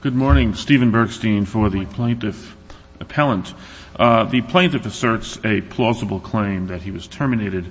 Good morning, Stephen Bergstein for the Plaintiff Appellant. The Plaintiff asserts a plausible claim that he was terminated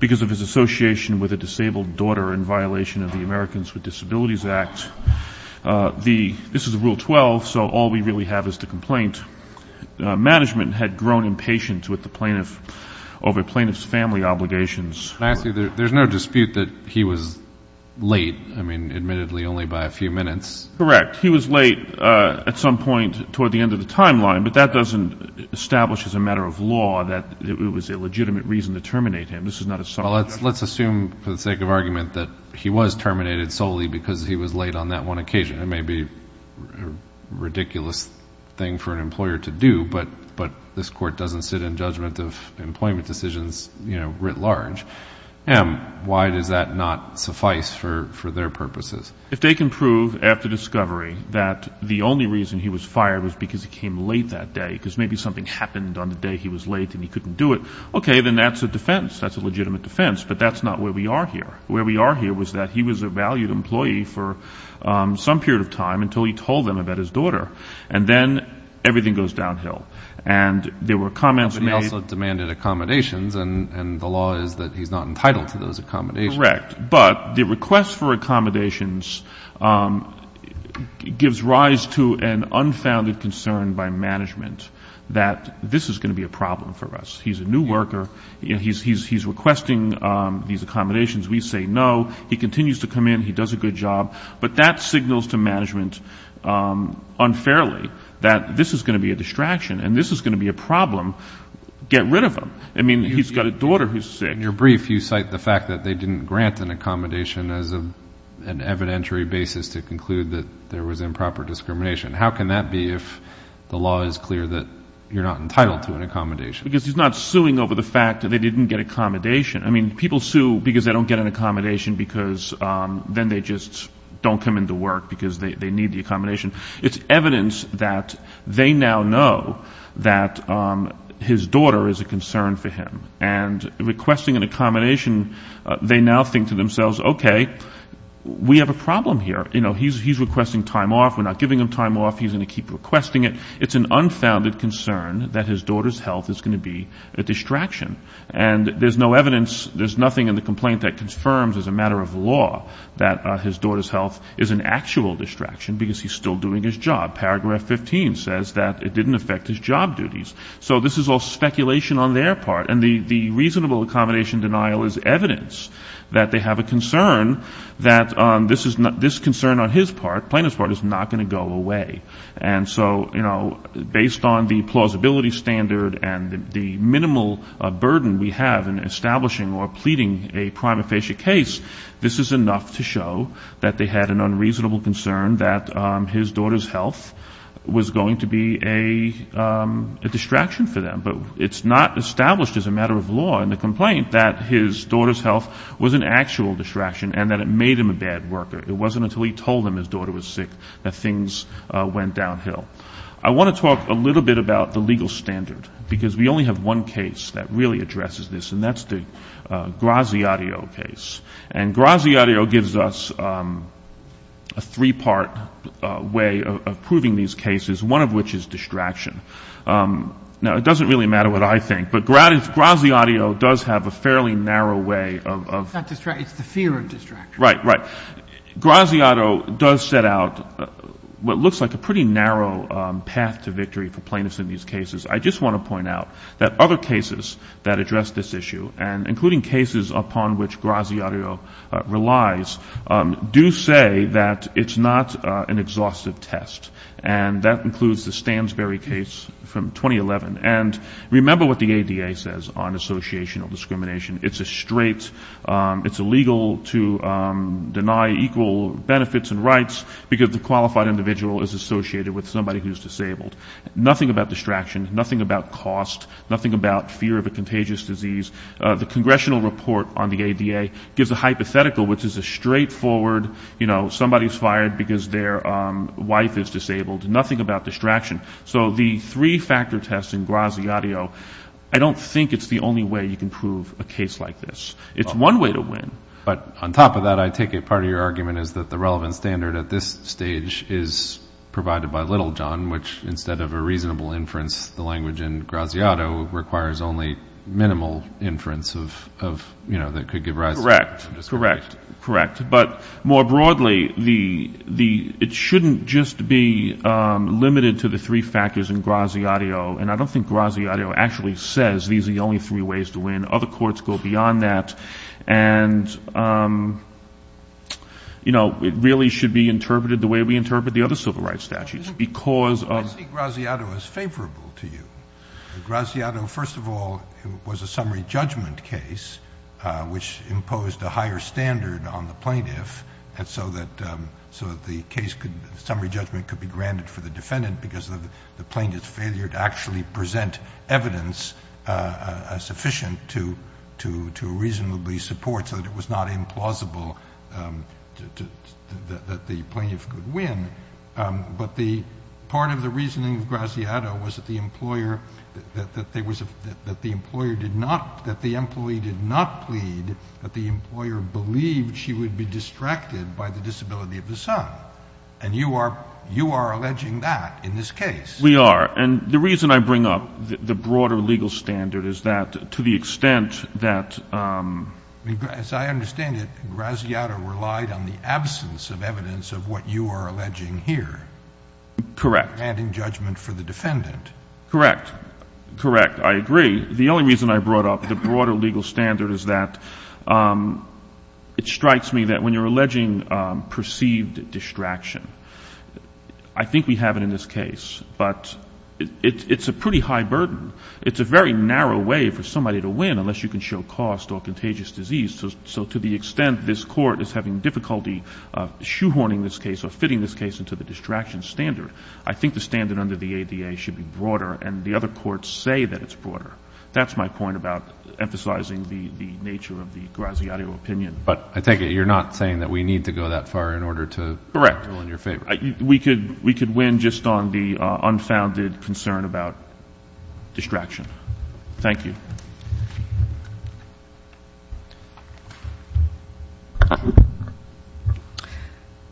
because of his association with a disabled daughter in violation of the Americans with Disabilities Act. This is Rule 12, so all we really have is the complaint. Management had grown impatient with the plaintiff over plaintiff's family obligations. There's no dispute that he was late, I mean, admittedly only by a few minutes. Correct. He was late at some point toward the end of the timeline, but that doesn't establish as a matter of law that it was a legitimate reason to terminate him. Well, let's assume for the sake of argument that he was terminated solely because he was late on that one occasion. It may be a ridiculous thing for an employer to do, but this Court doesn't sit in judgment of employment decisions, you know, writ large. Why does that not suffice for their purposes? If they can prove after discovery that the only reason he was fired was because he came late that day, because maybe something happened on the day he was late and he couldn't do it, okay, then that's a defense. That's a legitimate defense, but that's not where we are here. Where we are here was that he was a valued employee for some period of time until he told them about his daughter. And then everything goes downhill. And there were comments made — But he also demanded accommodations, and the law is that he's not entitled to those accommodations. Correct. But the request for accommodations gives rise to an unfounded concern by management that this is going to be a problem for us. He's a new worker. He's requesting these accommodations. We say no. He continues to come in. He does a good job. But that signals to management unfairly that this is going to be a distraction and this is going to be a problem. Get rid of him. I mean, he's got a daughter who's sick. In your brief, you cite the fact that they didn't grant an accommodation as an evidentiary basis to conclude that there was improper discrimination. How can that be if the law is clear that you're not entitled to an accommodation? Because he's not suing over the fact that they didn't get accommodation. I mean, people sue because they don't get an accommodation because then they just don't come into work because they need the accommodation. It's evidence that they now know that his daughter is a concern for him. And requesting an accommodation, they now think to themselves, okay, we have a problem here. You know, he's requesting time off. We're not giving him time off. He's going to keep requesting it. It's an unfounded concern that his daughter's health is going to be a distraction. And there's no evidence, there's nothing in the complaint that confirms as a matter of law that his daughter's health is an actual distraction because he's still doing his job. Paragraph 15 says that it didn't affect his job duties. So this is all speculation on their part. And the reasonable accommodation denial is evidence that they have a concern that this concern on his part, Plano's part, is not going to go away. And so, you know, based on the plausibility standard and the minimal burden we have in establishing or pleading a prima facie case, this is enough to show that they had an unreasonable concern that his daughter's health was going to be a distraction for them. But it's not established as a matter of law in the complaint that his daughter's health was an actual distraction and that it made him a bad worker. It wasn't until he told them his daughter was sick that things went downhill. I want to talk a little bit about the legal standard because we only have one case that really addresses this, and that's the Graziadio case. And Graziadio gives us a three-part way of proving these cases, one of which is distraction. Now, it doesn't really matter what I think, but Graziadio does have a fairly narrow way of — It's not distraction. It's the fear of distraction. Right, right. Graziadio does set out what looks like a pretty narrow path to victory for plaintiffs in these cases. I just want to point out that other cases that address this issue, and including cases upon which Graziadio relies, do say that it's not an exhaustive test. And that includes the Stansbury case from 2011. And remember what the ADA says on associational discrimination. It's a straight — it's illegal to deny equal benefits and rights because the qualified individual is associated with somebody who's disabled. Nothing about distraction, nothing about cost, nothing about fear of a contagious disease. The congressional report on the ADA gives a hypothetical, which is a straightforward, you know, somebody's fired because their wife is disabled, nothing about distraction. So the three-factor test in Graziadio, I don't think it's the only way you can prove a case like this. It's one way to win. But on top of that, I take it part of your argument is that the relevant standard at this stage is provided by Littlejohn, which instead of a reasonable inference, the language in Graziadio requires only minimal inference of, you know, that could give rise to — Correct, correct, correct. But more broadly, it shouldn't just be limited to the three factors in Graziadio. And I don't think Graziadio actually says these are the only three ways to win. Other courts go beyond that. And, you know, it really should be interpreted the way we interpret the other civil rights statutes, because of — I see Graziadio as favorable to you. Graziadio, first of all, was a summary judgment case, which imposed a higher standard on the plaintiff, so that the case could — the summary judgment could be granted for the defendant, because of the plaintiff's failure to actually present evidence sufficient to reasonably support, so that it was not implausible that the plaintiff could win. But part of the reasoning of Graziadio was that the employer did not — that the employee did not plead, that the employer believed she would be distracted by the disability of the son. And you are — you are alleging that in this case. We are. And the reason I bring up the broader legal standard is that, to the extent that — As I understand it, Graziadio relied on the absence of evidence of what you are alleging here. Correct. Granting judgment for the defendant. Correct. Correct. I agree. The only reason I brought up the broader legal standard is that it strikes me that when you are alleging perceived distraction, I think we have it in this case. But it's a pretty high burden. It's a very narrow way for somebody to win, unless you can show cost or contagious disease. So to the extent this Court is having difficulty shoehorning this case or fitting this case into the distraction standard, I think the standard under the ADA should be broader, and the other courts say that it's broader. That's my point about emphasizing the nature of the Graziadio opinion. But I take it you're not saying that we need to go that far in order to — Correct. — do all in your favor. We could win just on the unfounded concern about distraction. Thank you.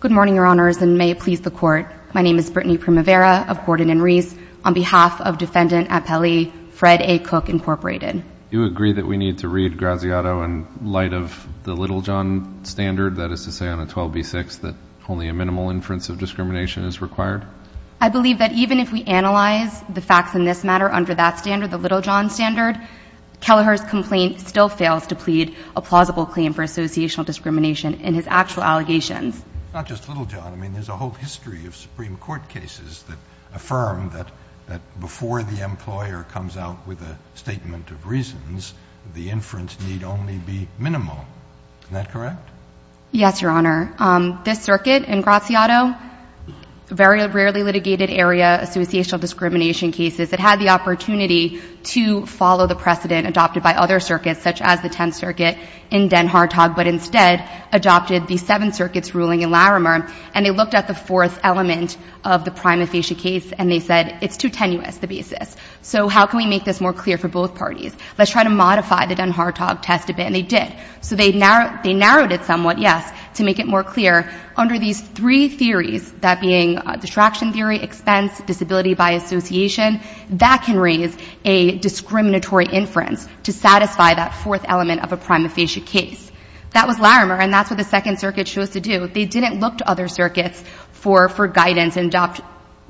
Good morning, Your Honors, and may it please the Court. My name is Brittany Primavera of Gordon and Reese. On behalf of Defendant Appelli, Fred A. Cook, Incorporated. Do you agree that we need to read Graziadio in light of the Littlejohn standard, that is to say on a 12b-6, that only a minimal inference of discrimination is required? I believe that even if we analyze the facts in this matter under that standard, the Littlejohn standard, Kelleher's complaint still fails to plead a plausible claim for associational discrimination in his actual allegations. Not just Littlejohn. I mean, there's a whole history of Supreme Court cases that affirm that before the employer comes out with a statement of reasons, the inference need only be minimal. Isn't that correct? Yes, Your Honor. This circuit in Graziadio, very rarely litigated area associational discrimination cases, it had the opportunity to follow the precedent adopted by other circuits, such as the Tenth Circuit in Den Hartog, but instead adopted the Seventh Circuit's ruling in Larimer, and they looked at the fourth element of the prima facie case, and they said, it's too tenuous, the basis. So how can we make this more clear for both parties? Let's try to modify the Den Hartog test a bit, and they did. So they narrowed it somewhat, yes, to make it more clear. Under these three theories, that being distraction theory, expense, disability by association, that can raise a discriminatory inference to satisfy that fourth element of a prima facie case. That was Larimer, and that's what the Second Circuit chose to do. They didn't look to other circuits for guidance and adopt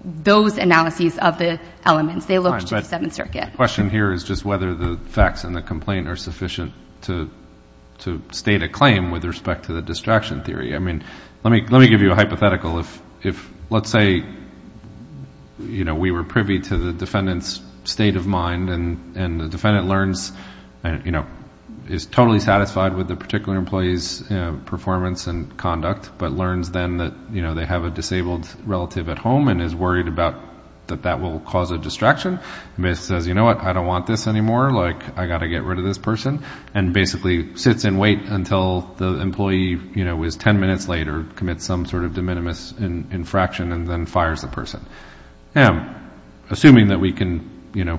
those analyses of the elements. They looked to the Seventh Circuit. My question here is just whether the facts in the complaint are sufficient to state a claim with respect to the distraction theory. Let me give you a hypothetical. Let's say we were privy to the defendant's state of mind, and the defendant is totally satisfied with the particular employee's performance and conduct, but learns then that they have a disabled relative at home and is worried that that will cause a distraction, and basically says, you know what, I don't want this anymore, I've got to get rid of this person, and basically sits and waits until the employee, you know, is ten minutes late or commits some sort of de minimis infraction and then fires the person. Assuming that we can, you know,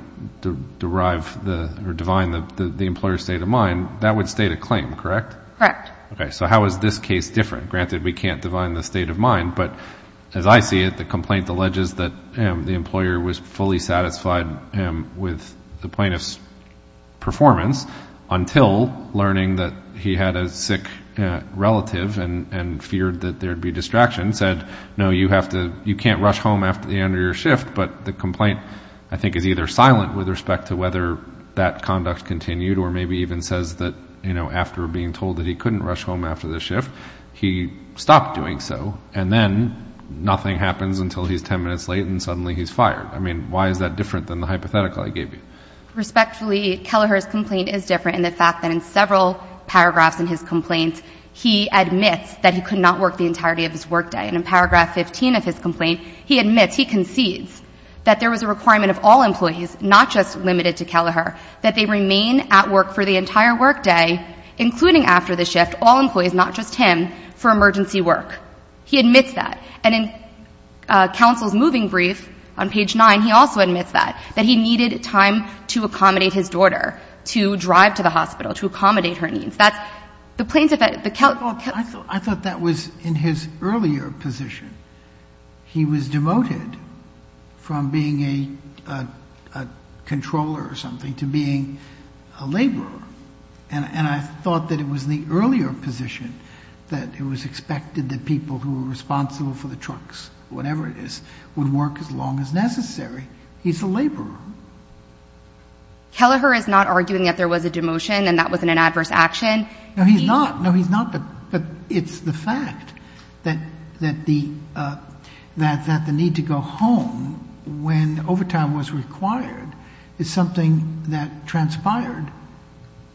derive or divine the employer's state of mind, that would state a claim, correct? Correct. Okay, so how is this case different? Granted, we can't divine the state of mind, but as I see it, the complaint alleges that the employer was fully satisfied with the plaintiff's performance until learning that he had a sick relative and feared that there would be distraction, said, no, you have to, you can't rush home after the end of your shift, but the complaint I think is either silent with respect to whether that conduct continued or maybe even says that, you know, after being told that he couldn't rush home after the shift, he stopped doing so, and then nothing happens until he's ten minutes late and suddenly he's fired. I mean, why is that different than the hypothetical I gave you? Respectfully, Kelleher's complaint is different in the fact that in several paragraphs in his complaint, he admits that he could not work the entirety of his workday, and in paragraph 15 of his complaint, he admits, he concedes, that there was a requirement of all employees, not just limited to Kelleher, that they remain at work for the entire workday, including after the shift, all employees, not just him, for emergency work. He admits that. And in counsel's moving brief on page 9, he also admits that, that he needed time to accommodate his daughter, to drive to the hospital, to accommodate her needs. That's the plaintiff at the count. I thought that was in his earlier position. He was demoted from being a controller or something to being a laborer, and I thought that it was in the earlier position that it was expected that people who were responsible for the trucks, whatever it is, would work as long as necessary. He's a laborer. Kelleher is not arguing that there was a demotion and that was an adverse action. No, he's not. No, he's not, but it's the fact that the need to go home when overtime was required is something that transpired.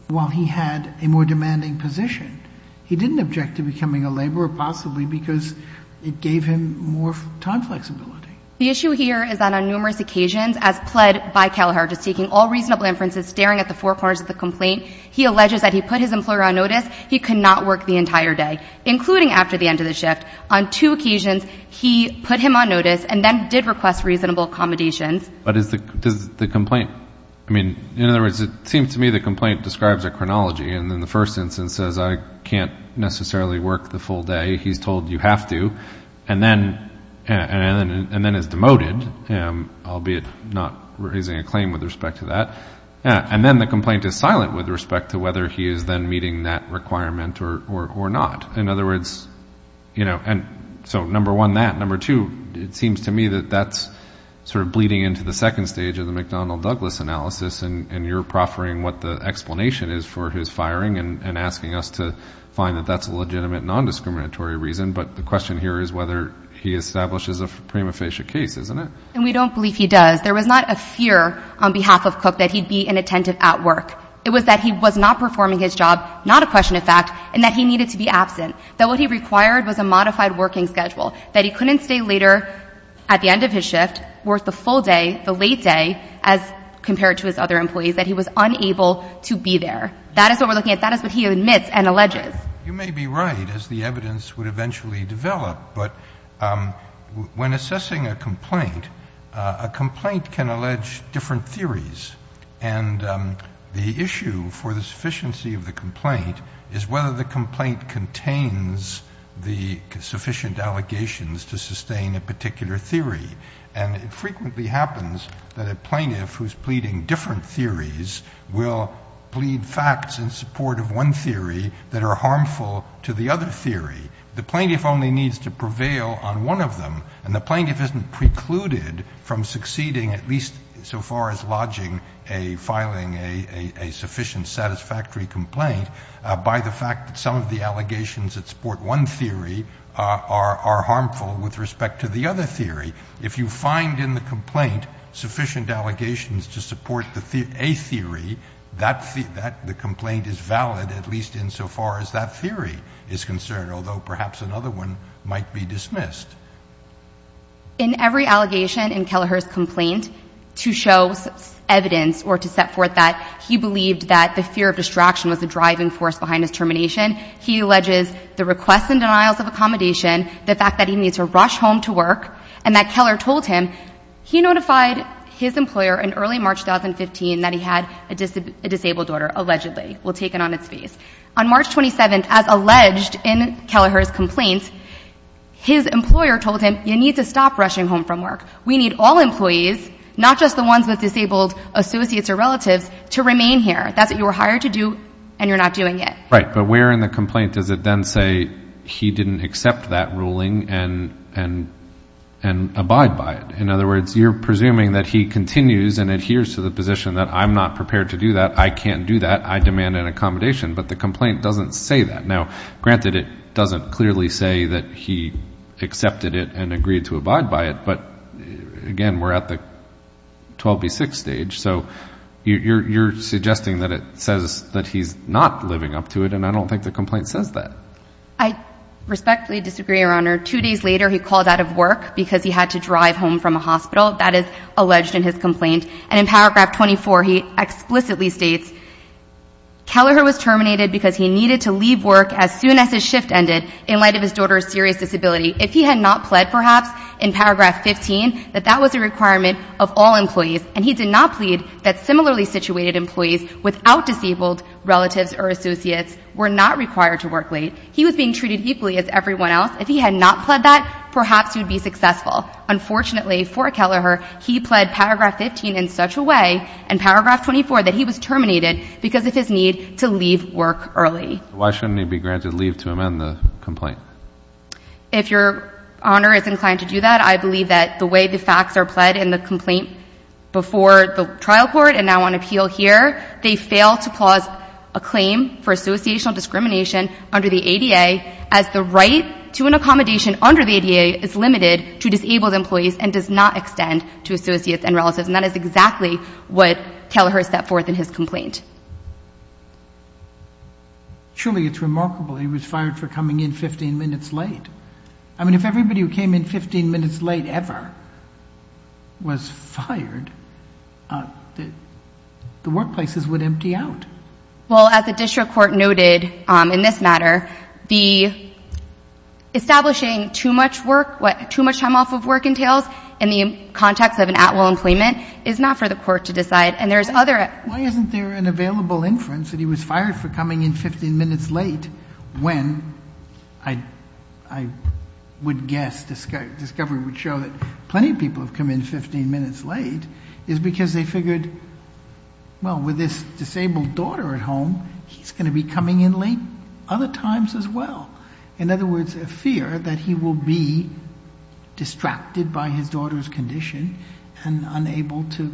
While he had a more demanding position, he didn't object to becoming a laborer, possibly because it gave him more time flexibility. The issue here is that on numerous occasions, as pled by Kelleher, just taking all reasonable inferences, staring at the four corners of the complaint, he alleges that he put his employer on notice, he could not work the entire day, including after the end of the shift. On two occasions, he put him on notice and then did request reasonable accommodations. But is the complaint, I mean, in other words, it seems to me the complaint describes a chronology and in the first instance says I can't necessarily work the full day. He's told you have to and then is demoted, albeit not raising a claim with respect to that. And then the complaint is silent with respect to whether he is then meeting that requirement or not. In other words, you know, so number one, that. It seems to me that that's sort of bleeding into the second stage of the McDonnell-Douglas analysis and you're proffering what the explanation is for his firing and asking us to find that that's a legitimate nondiscriminatory reason. But the question here is whether he establishes a prima facie case, isn't it? And we don't believe he does. There was not a fear on behalf of Cook that he'd be inattentive at work. It was that he was not performing his job, not a question of fact, and that he needed to be absent, that what he required was a modified working schedule, that he couldn't stay later at the end of his shift, work the full day, the late day, as compared to his other employees, that he was unable to be there. That is what we're looking at. That is what he admits and alleges. You may be right, as the evidence would eventually develop. But when assessing a complaint, a complaint can allege different theories. And the issue for the sufficiency of the complaint is whether the complaint contains the sufficient allegations to sustain a particular theory. And it frequently happens that a plaintiff who's pleading different theories will plead facts in support of one theory that are harmful to the other theory. The plaintiff only needs to prevail on one of them, and the plaintiff isn't precluded from succeeding, at least so far as lodging a filing a sufficient satisfactory complaint, by the fact that some of the allegations that support one theory are harmful with respect to the other theory. If you find in the complaint sufficient allegations to support a theory, the complaint is valid, at least insofar as that theory is concerned, although perhaps another one might be dismissed. In every allegation in Kelleher's complaint to show evidence or to set forth that he believed that the fear of distraction was the driving force behind his termination, he alleges the requests and denials of accommodation, the fact that he needs to rush home to work, and that Keller told him he notified his employer in early March 2015 that he had a disabled daughter, allegedly, while taken on its face. On March 27, as alleged in Kelleher's complaint, his employer told him, you need to stop rushing home from work. We need all employees, not just the ones with disabled associates or relatives, to remain here. That's what you were hired to do, and you're not doing it. The complaint doesn't say that. Now, granted, it doesn't clearly say that he accepted it and agreed to abide by it, but again, we're at the 12B6 stage, so you're suggesting that it says that he's not living up to it, and I don't think the complaint says that. I respectfully disagree, Your Honor. Two days later, he called out of work because he had to drive home from a hospital. That is alleged in his complaint. And in paragraph 24, he explicitly states, Keller was terminated because he needed to leave work as soon as his shift ended in light of his daughter's serious disability. If he had not pled, perhaps, in paragraph 15, that that was a requirement of all employees, and he did not plead that similarly situated employees without disabled relatives or associates were not required to work late. He was being treated equally as everyone else. If he had not pled that, perhaps he would be successful. Unfortunately for Keller, he pled paragraph 15 in such a way, and paragraph 24, that he was terminated because of his need to leave work early. Why shouldn't he be granted leave to amend the complaint? If Your Honor is inclined to do that, I believe that the way the facts are pled in the complaint before the trial court and now on appeal here, they fail to cause a claim for associational discrimination under the ADA as the right to an accommodation under the ADA is limited to disabled employees and does not extend to associates and relatives. And that is exactly what Keller set forth in his complaint. Surely it's remarkable he was fired for coming in 15 minutes late. I mean, if everybody who came in 15 minutes late ever was fired, the workplaces would empty out. Well, as the district court noted in this matter, establishing too much time off of work entails in the context of an at-will employment is not for the court to decide. Why isn't there an available inference that he was fired for coming in 15 minutes late when I would guess discovery would show that plenty of people have come in 15 minutes late is because they figured, well, with this disabled daughter at home, he's going to be coming in late other times as well. In other words, a fear that he will be distracted by his daughter's condition and unable to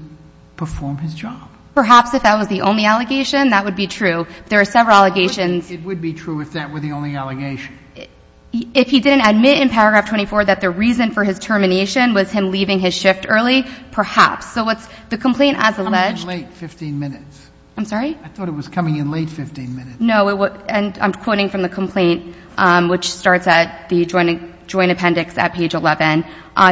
perform his job. Perhaps if that was the only allegation, that would be true. There are several allegations. It would be true if that were the only allegation. If he didn't admit in paragraph 24 that the reason for his termination was him leaving his shift early, perhaps. So the complaint as alleged... I thought it was coming in late 15 minutes. No, and I'm quoting from the complaint, which starts at the joint appendix at page 11.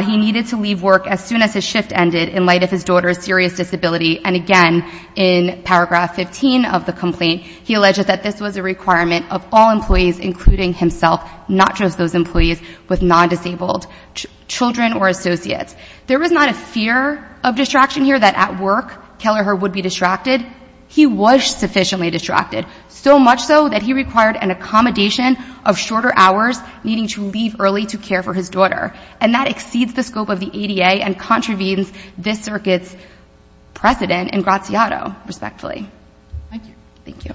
He needed to leave work as soon as his shift ended in light of his daughter's serious disability. And again, in paragraph 15 of the complaint, he alleged that this was a requirement of all employees, including himself, not just those employees with non-disabled children or associates. There was not a fear of distraction here, that at work, Keller would be distracted. He was sufficiently distracted, so much so that he required an accommodation of shorter hours, needing to leave early to care for his daughter. And that exceeds the scope of the ADA and contravenes this circuit's precedent in Graziado, respectfully. Thank you.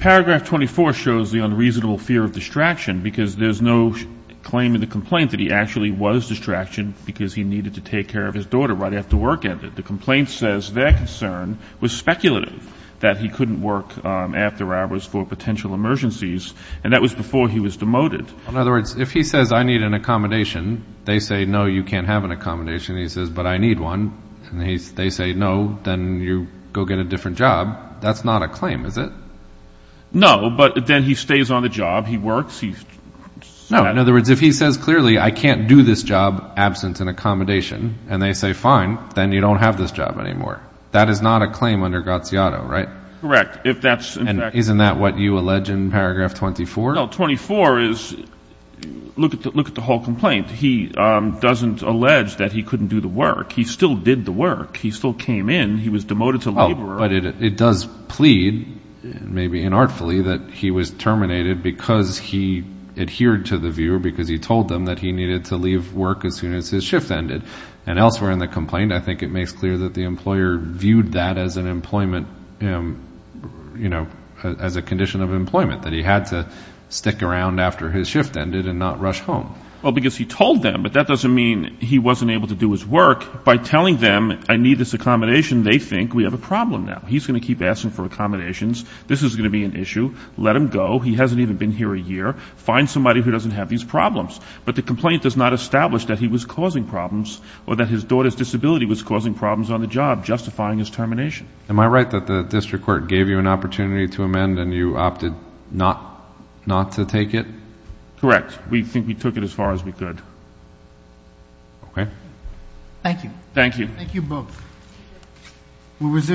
Paragraph 24 shows the unreasonable fear of distraction, because there's no claim in the complaint that he actually was distracted because he needed to take care of his daughter right after work ended. The complaint says their concern was speculative, that he couldn't work after hours for potential emergencies, and that was before he was demoted. In other words, if he says, I need an accommodation, they say, no, you can't have an accommodation. He says, but I need one. And they say, no, then you go get a different job. That's not a claim, is it? No, but then he stays on the job. No, in other words, if he says clearly, I can't do this job absent an accommodation, and they say, fine, then you don't have this job anymore. That is not a claim under Graziado, right? Correct. And isn't that what you allege in paragraph 24? No, 24 is, look at the whole complaint. He doesn't allege that he couldn't do the work. He still did the work. He still came in. He was demoted to laborer. But it does plead, maybe inartfully, that he was terminated because he adhered to the viewer, because he told them that he needed to leave work as soon as his shift ended. And elsewhere in the complaint, I think it makes clear that the employer viewed that as an employment, you know, as a condition of employment, that he had to stick around after his shift ended and not rush home. Well, because he told them, but that doesn't mean he wasn't able to do his work. By telling them, I need this accommodation, they think we have a problem now. He's going to keep asking for accommodations. This is going to be an issue. Let him go. He hasn't even been here a year. Find somebody who doesn't have these problems. But the complaint does not establish that he was causing problems or that his daughter's disability was causing problems on the job, justifying his termination. Am I right that the district court gave you an opportunity to amend and you opted not to take it? Correct. We think we took it as far as we could. Okay. Thank you. Thank you. Thank you both.